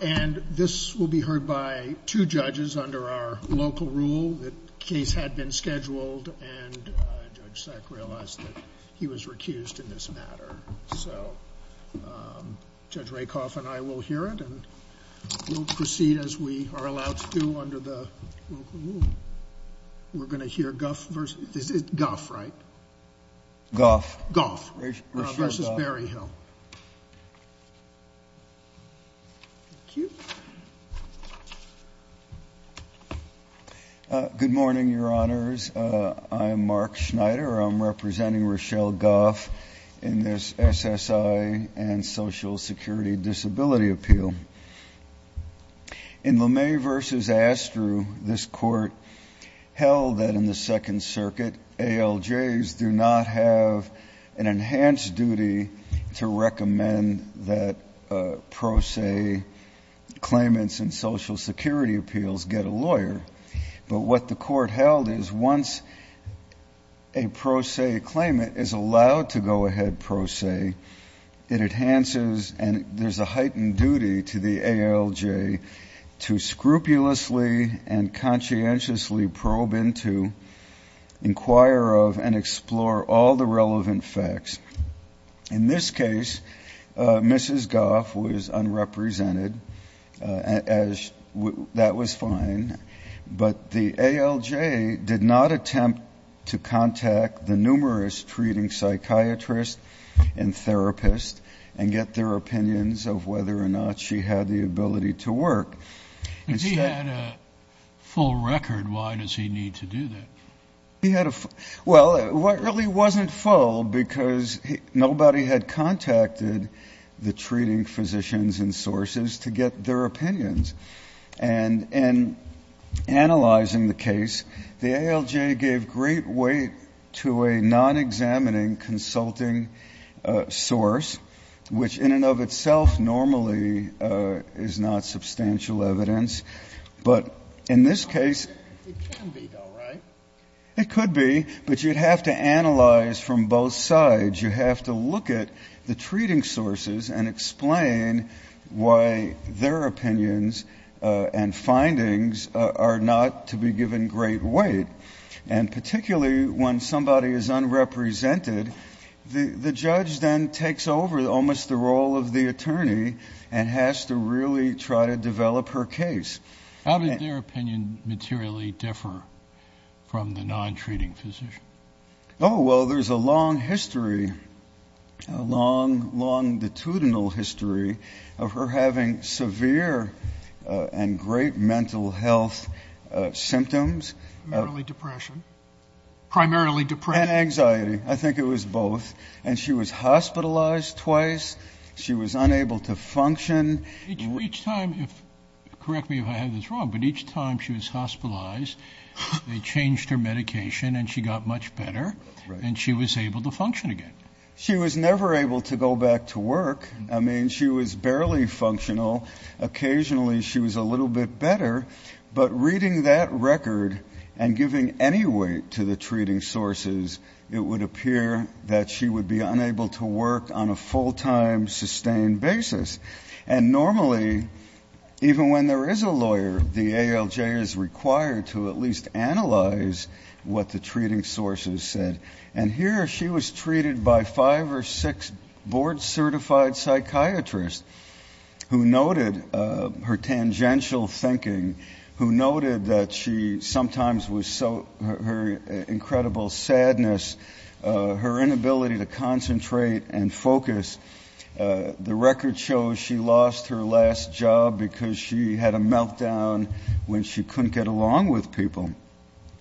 and this will be heard by two judges under our local rule. The case had been scheduled and Judge Sack realized that he was recused in this matter. So Judge Rakoff and I will hear it and we'll proceed as we are allowed to do under the local rule. We're going to proceed. Thank you. Good morning, your honors. I'm Mark Schneider. I'm representing Rochelle Gough in this SSI and Social Security Disability Appeal. In Lemay v. Astrue, this court held that in the Second Circuit, ALJs do not have an enhanced duty to recommend that pro se claimants in social security appeals get a lawyer. But what the court held is once a pro se claimant is allowed to go ahead pro se, it enhances and there's a heightened duty to the ALJ to scrupulously and conscientiously probe into, inquire of, and explore all the relevant facts. In this case, Mrs. Gough was unrepresented as that was fine, but the ALJ did not attempt to contact the numerous treating psychiatrists and therapists and get their she had the ability to work. If he had a full record, why does he need to do that? Well, it really wasn't full because nobody had contacted the treating physicians and sources to get their opinions. And in analyzing the case, the ALJ gave great weight to a non-examining consulting source, which in and of itself normally is not substantial evidence. But in this case It can be, though, right? It could be, but you'd have to analyze from both sides. You have to look at the treating sources and explain why their opinions and findings are not to be given great weight. And particularly when somebody is unrepresented, the judge then takes over almost the role of the attorney and has to really try to develop her case. How did their opinion materially differ from the non-treating physician? Oh, well, there's a long history, a long longitudinal history of her having severe and great mental health symptoms. Primarily depression. Primarily depression. And anxiety. I think it was both. And she was hospitalized twice. She was unable to function. Each time, correct me if I have this wrong, but each time she was hospitalized, they changed her medication and she got much better and she was able to function again. She was never able to go back to work. I mean, she was barely functional. Occasionally she was a little bit better. But reading that record and giving any weight to the treating sources, it would appear that she would be unable to work on a full-time, sustained basis. And normally, even when there is a lawyer, the ALJ is required to at least analyze what the treating sources said. And here, she was treated by five or six board-certified psychiatrists who noted her tangential thinking, who noted that she sometimes was so, her incredible sadness, her inability to concentrate and focus. The record shows she lost her last job because she had a meltdown when she couldn't get along with people.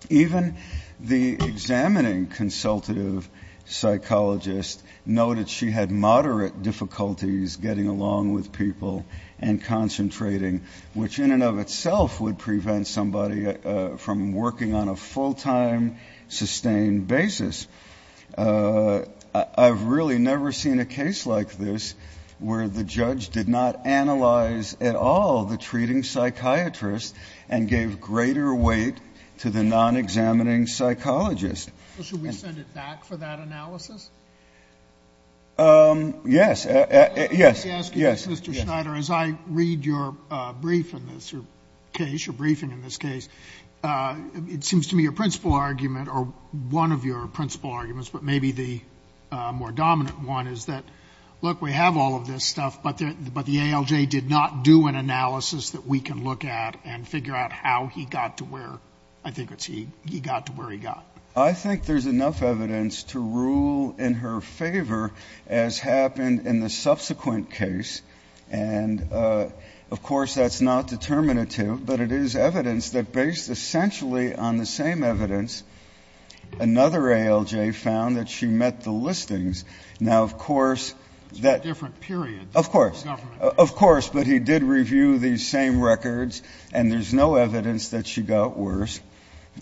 Even the examining consultative psychologist noted she had moderate difficulties getting along with people and concentrating, which in and of itself would prevent somebody from working on a full-time, sustained basis. I've really never seen a case like this where the judge did not analyze at all the treating psychiatrist and gave greater weight to the non-examining Sotomayor, should we send it back for that analysis? Yes. Let me ask you this, Mr. Schneider. As I read your brief in this case, your briefing in this case, it seems to me your principal argument, or one of your principal arguments, but maybe the more dominant one, is that, look, we have all of this stuff, but the ALJ did not do an analysis that we can look at and figure out how he got to where, I think it's he got to where he got. I think there's enough evidence to rule in her favor, as happened in the subsequent case, and, of course, that's not determinative, but it is evidence that, based essentially on the same evidence, another ALJ found that she met the listings. Now, of course that It's a different period. Of course. It's a government period. Of course. But he did review these same records, and there's no evidence that she got worse.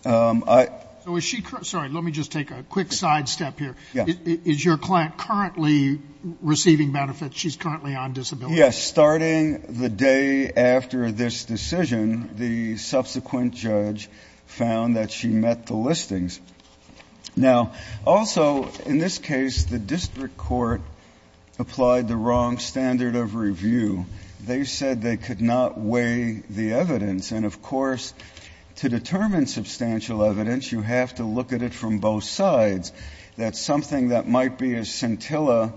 So is she sorry, let me just take a quick sidestep here. Yes. Is your client currently receiving benefits? She's currently on disability. Yes. Starting the day after this decision, the subsequent judge found that she met the listings. Now, also, in this case, the district court applied the wrong standard of review. They said they could not weigh the evidence. And, of course, to determine that might be a scintilla,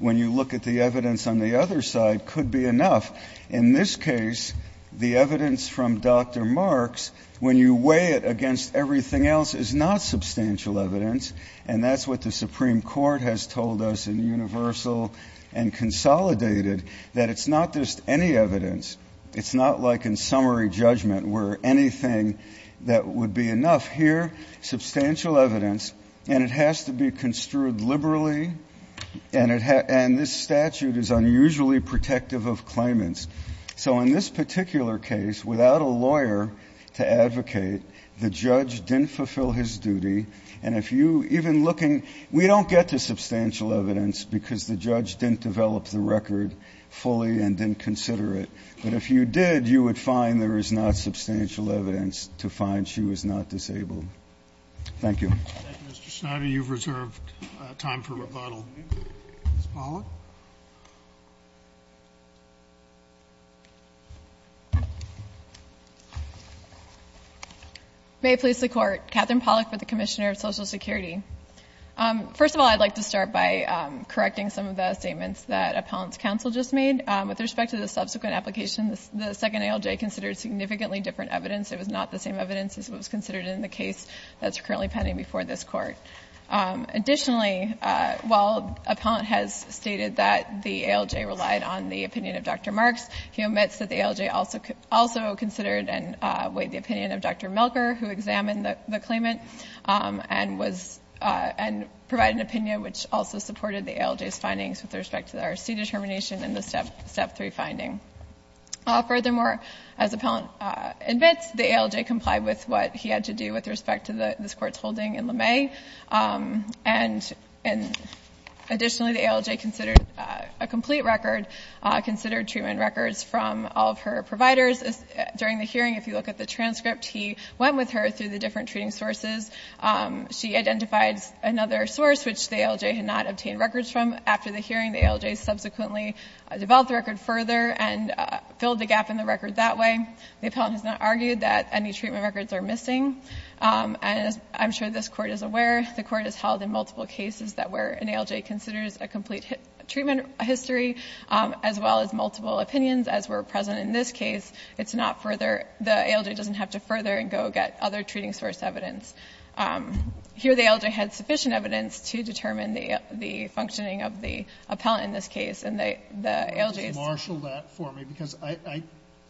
when you look at the evidence on the other side, could be enough. In this case, the evidence from Dr. Marks, when you weigh it against everything else, is not substantial evidence. And that's what the Supreme Court has told us in Universal and Consolidated, that it's not just any evidence. It's not like in summary judgment where anything that would be enough. Here, substantial evidence, and it has to be construed liberally, and this statute is unusually protective of claimants. So in this particular case, without a lawyer to advocate, the judge didn't fulfill his duty. And if you, even looking, we don't get to substantial evidence because the judge didn't develop the record fully and didn't consider it. But if you did, you would find there is not substantial evidence to find she was not disabled. Thank you. Mr. Schneider, you've reserved time for rebuttal. Ms. Pollack? May it please the Court. Katherine Pollack with the Commissioner of Social Security. First of all, I'd like to start by correcting some of the statements that Appellant's counsel just made. With respect to the subsequent application, the second ALJ considered significantly different evidence. It was not the same evidence as what was considered in the case that's currently pending before this Court. Additionally, while Appellant has stated that the ALJ relied on the opinion of Dr. Marks, he omits that the ALJ also considered and weighed the opinion of Dr. Milker, who examined the claimant, and was and provided an opinion which also supported the ALJ's findings with respect to the R.C. determination in the Step 3 finding. Furthermore, as Appellant admits, the ALJ complied with what he had to do with respect to this Court's holding in LeMay. And additionally, the ALJ considered a complete record, considered treatment records from all of her providers. During the hearing, if you look at the transcript, he went with her through the different treating sources. She identified another source which the ALJ had not obtained records from. After the hearing, the ALJ subsequently developed the record further and filled the gap in the record that way. The Appellant has not argued that any treatment records are missing. And as I'm sure this Court is aware, the Court has held in multiple cases that where an ALJ considers a complete treatment history, as well as multiple opinions, as were present in this case, it's not further, the ALJ doesn't have to further and go get other treating source evidence. Here, the ALJ had sufficient evidence to determine the functioning of the Appellant in this case, and the ALJ's...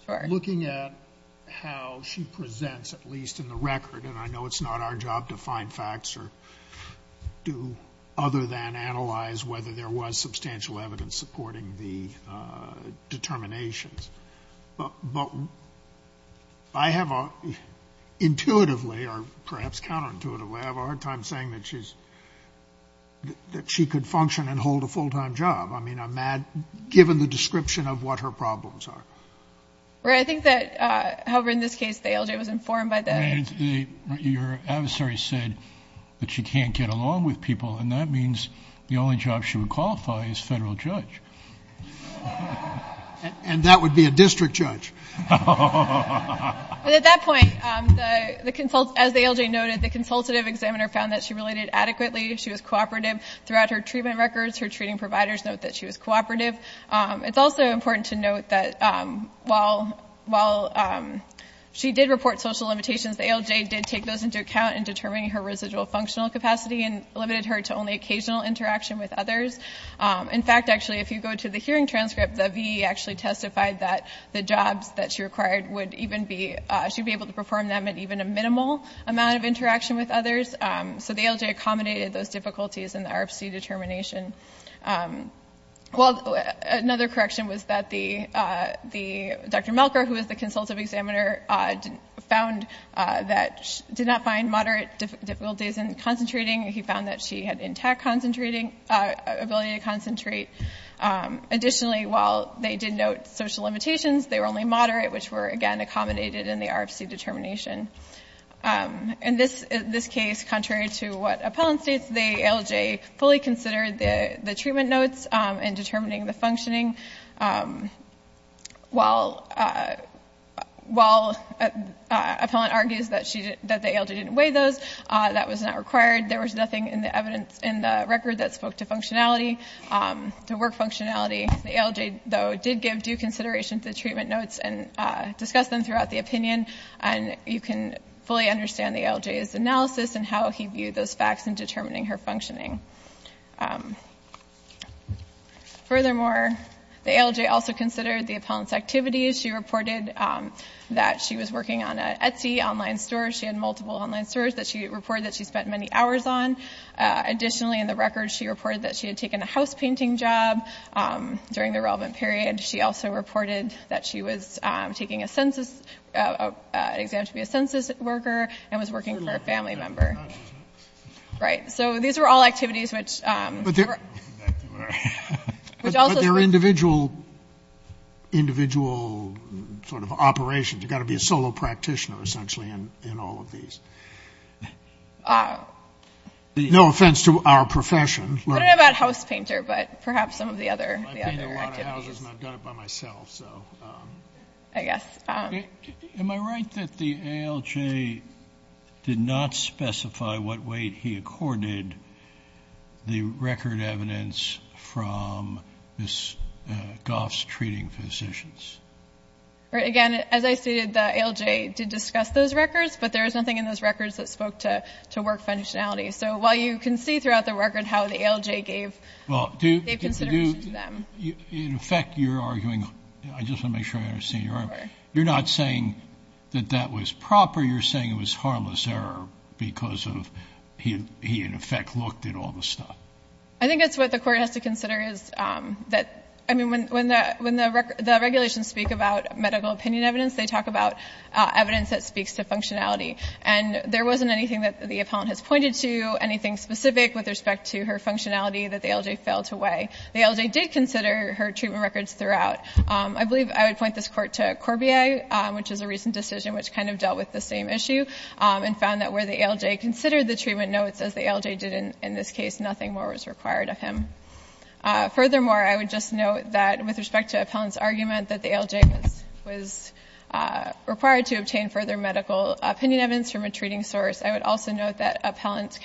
I'm looking at how she presents, at least in the record, and I know it's not our job to find facts or do other than analyze whether there was substantial evidence supporting the determinations. But I have a, intuitively, or perhaps counterintuitively, I have a hard time saying that she's, that she could function and hold a full-time job. I mean, I'm mad, given the description of what her problems are. Right. I think that, however, in this case, the ALJ was informed by the... Right. Your adversary said that she can't get along with people, and that means the only job she would qualify is federal judge. And that would be a district judge. But at that point, the, as the ALJ noted, the consultative examiner found that she related adequately, she was cooperative throughout her treatment records, her while she did report social limitations, the ALJ did take those into account in determining her residual functional capacity and limited her to only occasional interaction with others. In fact, actually, if you go to the hearing transcript, the VE actually testified that the jobs that she required would even be, she'd be able to perform them at even a minimal amount of interaction with others. So the ALJ accommodated those difficulties in the RFC determination. Well, another correction was that the Dr. Melker, who was the consultative examiner, found that she did not find moderate difficulties in concentrating. He found that she had intact concentrating, ability to concentrate. Additionally, while they did note social limitations, they were only moderate, which were, again, accommodated in the RFC determination. In this case, contrary to what Appellant states, the ALJ fully considered the treatment notes in determining the functioning. While Appellant argues that the ALJ didn't weigh those, that was not required. There was nothing in the evidence in the record that spoke to functionality, to work functionality. The ALJ, though, did give due consideration to the treatment notes and discussed them throughout the opinion. And you can fully understand the ALJ's analysis and how he did that. Furthermore, the ALJ also considered the Appellant's activities. She reported that she was working on an Etsy online store. She had multiple online stores that she reported that she spent many hours on. Additionally, in the record, she reported that she had taken a house painting job during the relevant period. She also reported that she was taking a census, an exam to be a census worker, and was working for a family member. Right. So these are all activities, which, which also But they're individual, individual sort of operations. You've got to be a solo practitioner, essentially, in all of these. No offense to our profession. I don't know about house painter, but perhaps some of the other, the other I've painted a lot of houses, and I've done it by myself. So, I guess. Am I right that the ALJ did not specify what weight he accorded the record evidence from Ms. Goff's treating physicians? Right, again, as I stated, the ALJ did discuss those records, but there is nothing in those records that spoke to, to work functionality. So while you can see throughout the record how the ALJ gave, gave consideration to them. In effect, you're arguing, I just want to make sure I understand you're not saying that that was proper. You're saying it was harmless error because of he, he in effect looked at all the stuff. I think that's what the court has to consider is that, I mean, when, when the, when the the regulations speak about medical opinion evidence, they talk about evidence that speaks to functionality. And there wasn't anything that the appellant has pointed to, anything specific with respect to her functionality that the ALJ failed to weigh. The ALJ did consider her treatment records throughout. I believe I would point this court to Corbier, which is a recent decision, which kind of dealt with the same issue and found that where the ALJ considered the treatment notes as the ALJ did in this case, nothing more was required of him. Furthermore, I would just note that with respect to appellant's argument that the ALJ was required to obtain further medical opinion evidence from a treating source. I would also note that appellant's,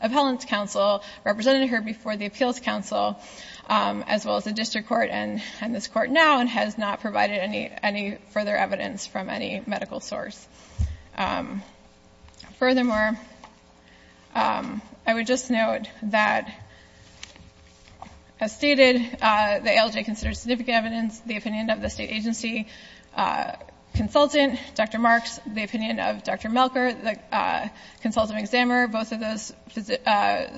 appellant's counsel represented her before the appeals counsel, as well as the district court and this court now, and has not provided any, any further evidence from any medical source. Furthermore, I would just note that as stated, the ALJ considered significant evidence, the opinion of the state agency consultant, Dr. Marks, the opinion of Dr. Melker, the consultant examiner, both of those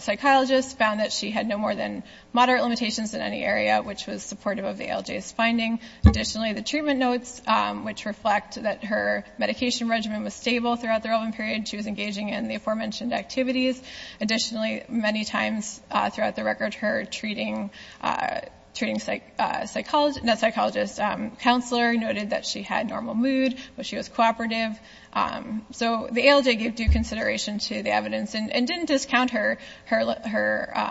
psychologists found that she had no more than moderate limitations in any area, which was supportive of the ALJ's finding. Additionally, the treatment notes, which reflect that her medication regimen was stable throughout the relevant period, she was engaging in the aforementioned activities. Additionally, many times throughout the record, her treating, treating psychologist, not psychologist, counselor noted that she had normal mood, but she was cooperative. So the ALJ gave due consideration to the evidence and didn't discount her, her,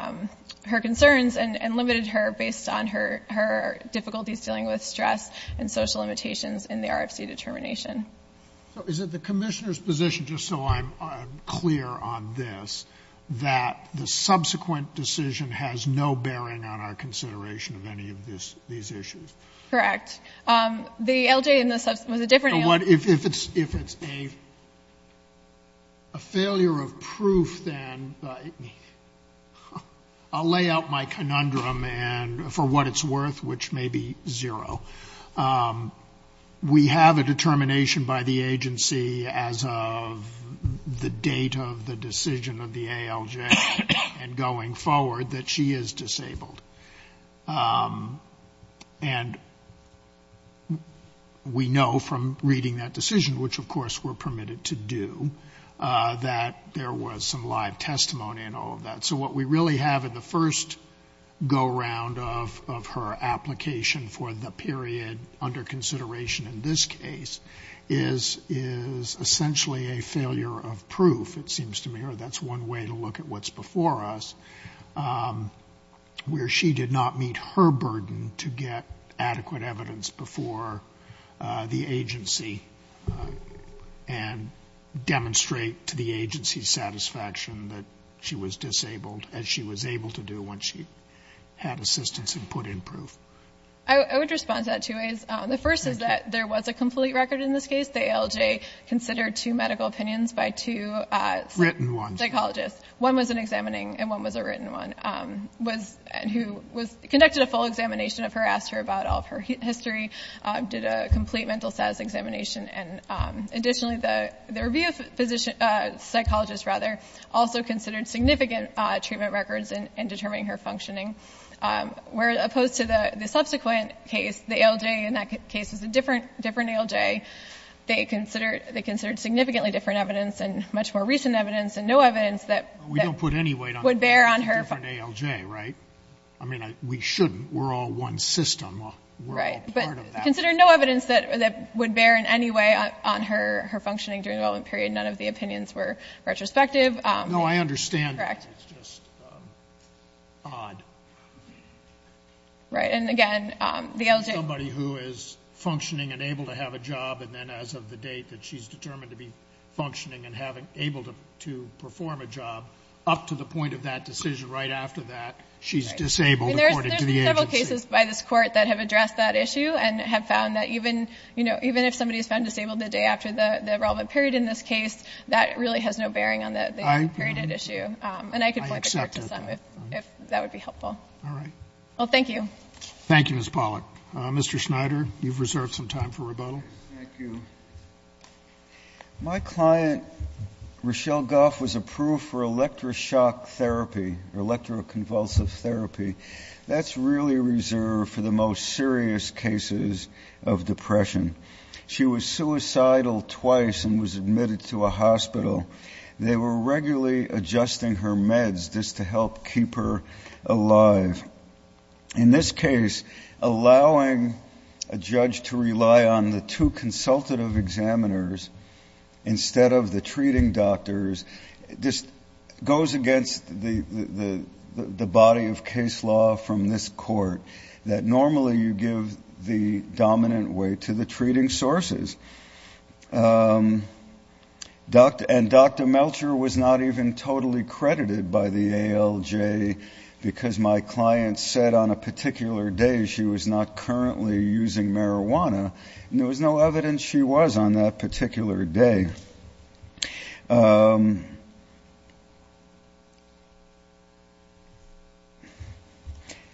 her concerns and, and limited her based on her, her difficulties dealing with stress and social limitations in the RFC determination. So is it the commissioner's position, just so I'm clear on this, that the subsequent decision has no bearing on our consideration of any of this, these issues? Correct. The ALJ in the sub, was a different ALJ. But if it's, if it's a, a failure of proof, then I'll lay out my conundrum and for what it's worth, which may be zero. We have a determination by the agency as of the date of the decision of the ALJ and going forward that she is disabled. And we know from reading that decision, which of course we're permitted to do, that there was some live testimony and all of that. So what we really have in the first go round of, of her application for the period under consideration in this case is, is essentially a failure of proof. It seems to me, or that's one way to look at what's before us. Where she did not meet her burden to get adequate evidence before the agency and demonstrate to the agency's satisfaction that she was disabled as she was able to do once she had assistance and put in proof. I would respond to that two ways. The first is that there was a complete record in this case. The ALJ considered two medical opinions by two psychologists. Psychologists. One was an examining and one was a written one, was, and who was, conducted a full examination of her, asked her about all of her history, did a complete mental status examination. And additionally, the, the review physician, psychologist rather, also considered significant treatment records in determining her functioning. Where opposed to the subsequent case, the ALJ in that case was a different, different ALJ. They considered, they considered significantly different evidence and much more recent evidence and no evidence that would bear on her. It's a different ALJ, right? I mean, we shouldn't, we're all one system, we're all part of that. Considered no evidence that, that would bear in any way on her, her functioning during the development period. None of the opinions were retrospective. No, I understand. Correct. It's just odd. Right. And again, the ALJ. Somebody who is functioning and able to have a job and then as of the date that she's determined to be functioning and having, able to, to perform a job, up to the point of that decision right after that, she's disabled according to the agency. And there's, there's several cases by this Court that have addressed that issue and have found that even, you know, even if somebody's found disabled the day after the, the relevant period in this case, that really has no bearing on the, the period at issue. I, I accept that. And I can point the Court to some if, if that would be helpful. All right. Well, thank you. Thank you, Ms. Pollack. Mr. Schneider, you've reserved some time for rebuttal. Thank you. My client, Rochelle Goff, was approved for electroshock therapy, electroconvulsive therapy. That's really reserved for the most serious cases of depression. She was suicidal twice and was admitted to a hospital. They were regularly adjusting her meds just to help keep her alive. In this case, allowing a judge to rely on the two consultative examiners instead of the treating doctors just goes against the, the, the body of case law from this Court that normally you give the dominant weight to the treating sources. And Dr. Melcher was not even totally credited by the ALJ because my client said on a particular day she was not currently using marijuana, and there was no evidence she was on that particular day.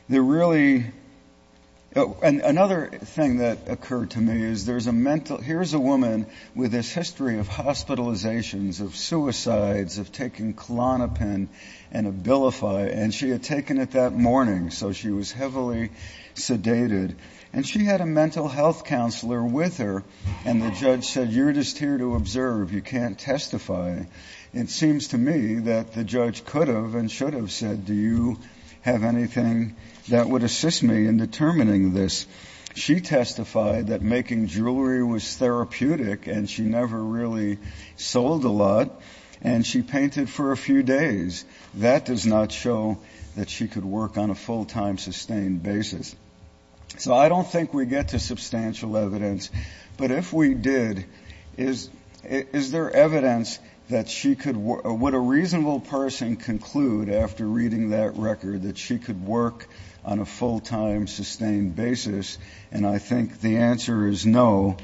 There really, another thing that occurred to me is there's a mental, here's a woman with this history of hospitalizations, of suicides, of taking Klonopin and Abilify, and she had taken it that morning, so she was heavily sedated. And she had a mental health counselor with her, and the judge said, you're just here to observe, you can't testify. It seems to me that the judge could have and should have said, do you have anything that would assist me in determining this? She testified that making jewelry was therapeutic, and she never really sold a lot, and she painted for a few days. That does not show that she could work on a full-time, sustained basis. So I don't think we get to substantial evidence. But if we did, is there evidence that she could, would a reasonable person conclude after reading that record that she could work on a full-time, sustained basis? And I think the answer is no.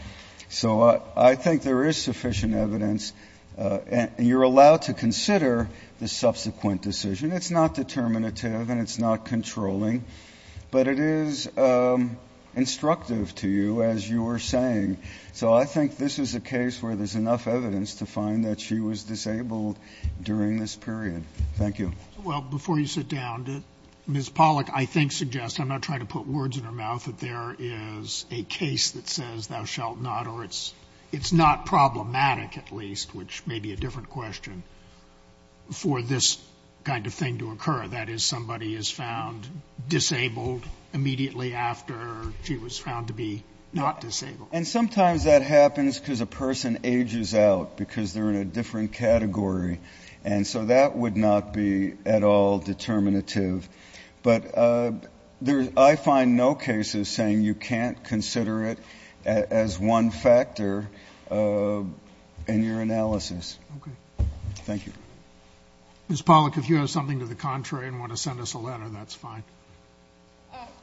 So I think there is sufficient evidence, and you're allowed to consider the subsequent decision. It's not determinative, and it's not controlling. But it is instructive to you, as you were saying. So I think this is a case where there's enough evidence to find that she was disabled during this period. Thank you. Well, before you sit down, Ms. Pollack, I think, suggests, I'm not trying to put words in her mouth, that there is a case that says, thou shalt not, or it's not problematic, at least, which may be a different question, for this kind of thing to occur. That is, somebody is found disabled immediately after she was found to be not disabled. And sometimes that happens because a person ages out, because they're in a different category. And so that would not be at all determinative. But I find no cases saying you can't consider it as one factor in your analysis. Okay. Thank you. Ms. Pollack, if you have something to the contrary and want to send us a letter, that's fine.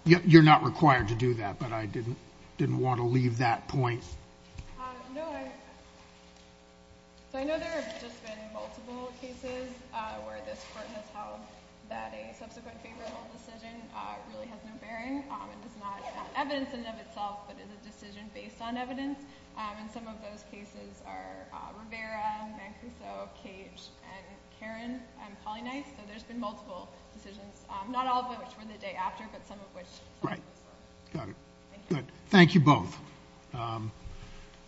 You're not required to do that, but I didn't want to leave that point. No, I know there have just been multiple cases where this Court has held that a subsequent favorable decision really has no bearing and does not have evidence in and of itself, but is a decision based on evidence. And some of those cases are Rivera, Mancuso, Cage, and Karen, and Polly Nice. So there's been multiple decisions, not all of which were the day after, but some of which were. Got it. Good. Thank you both.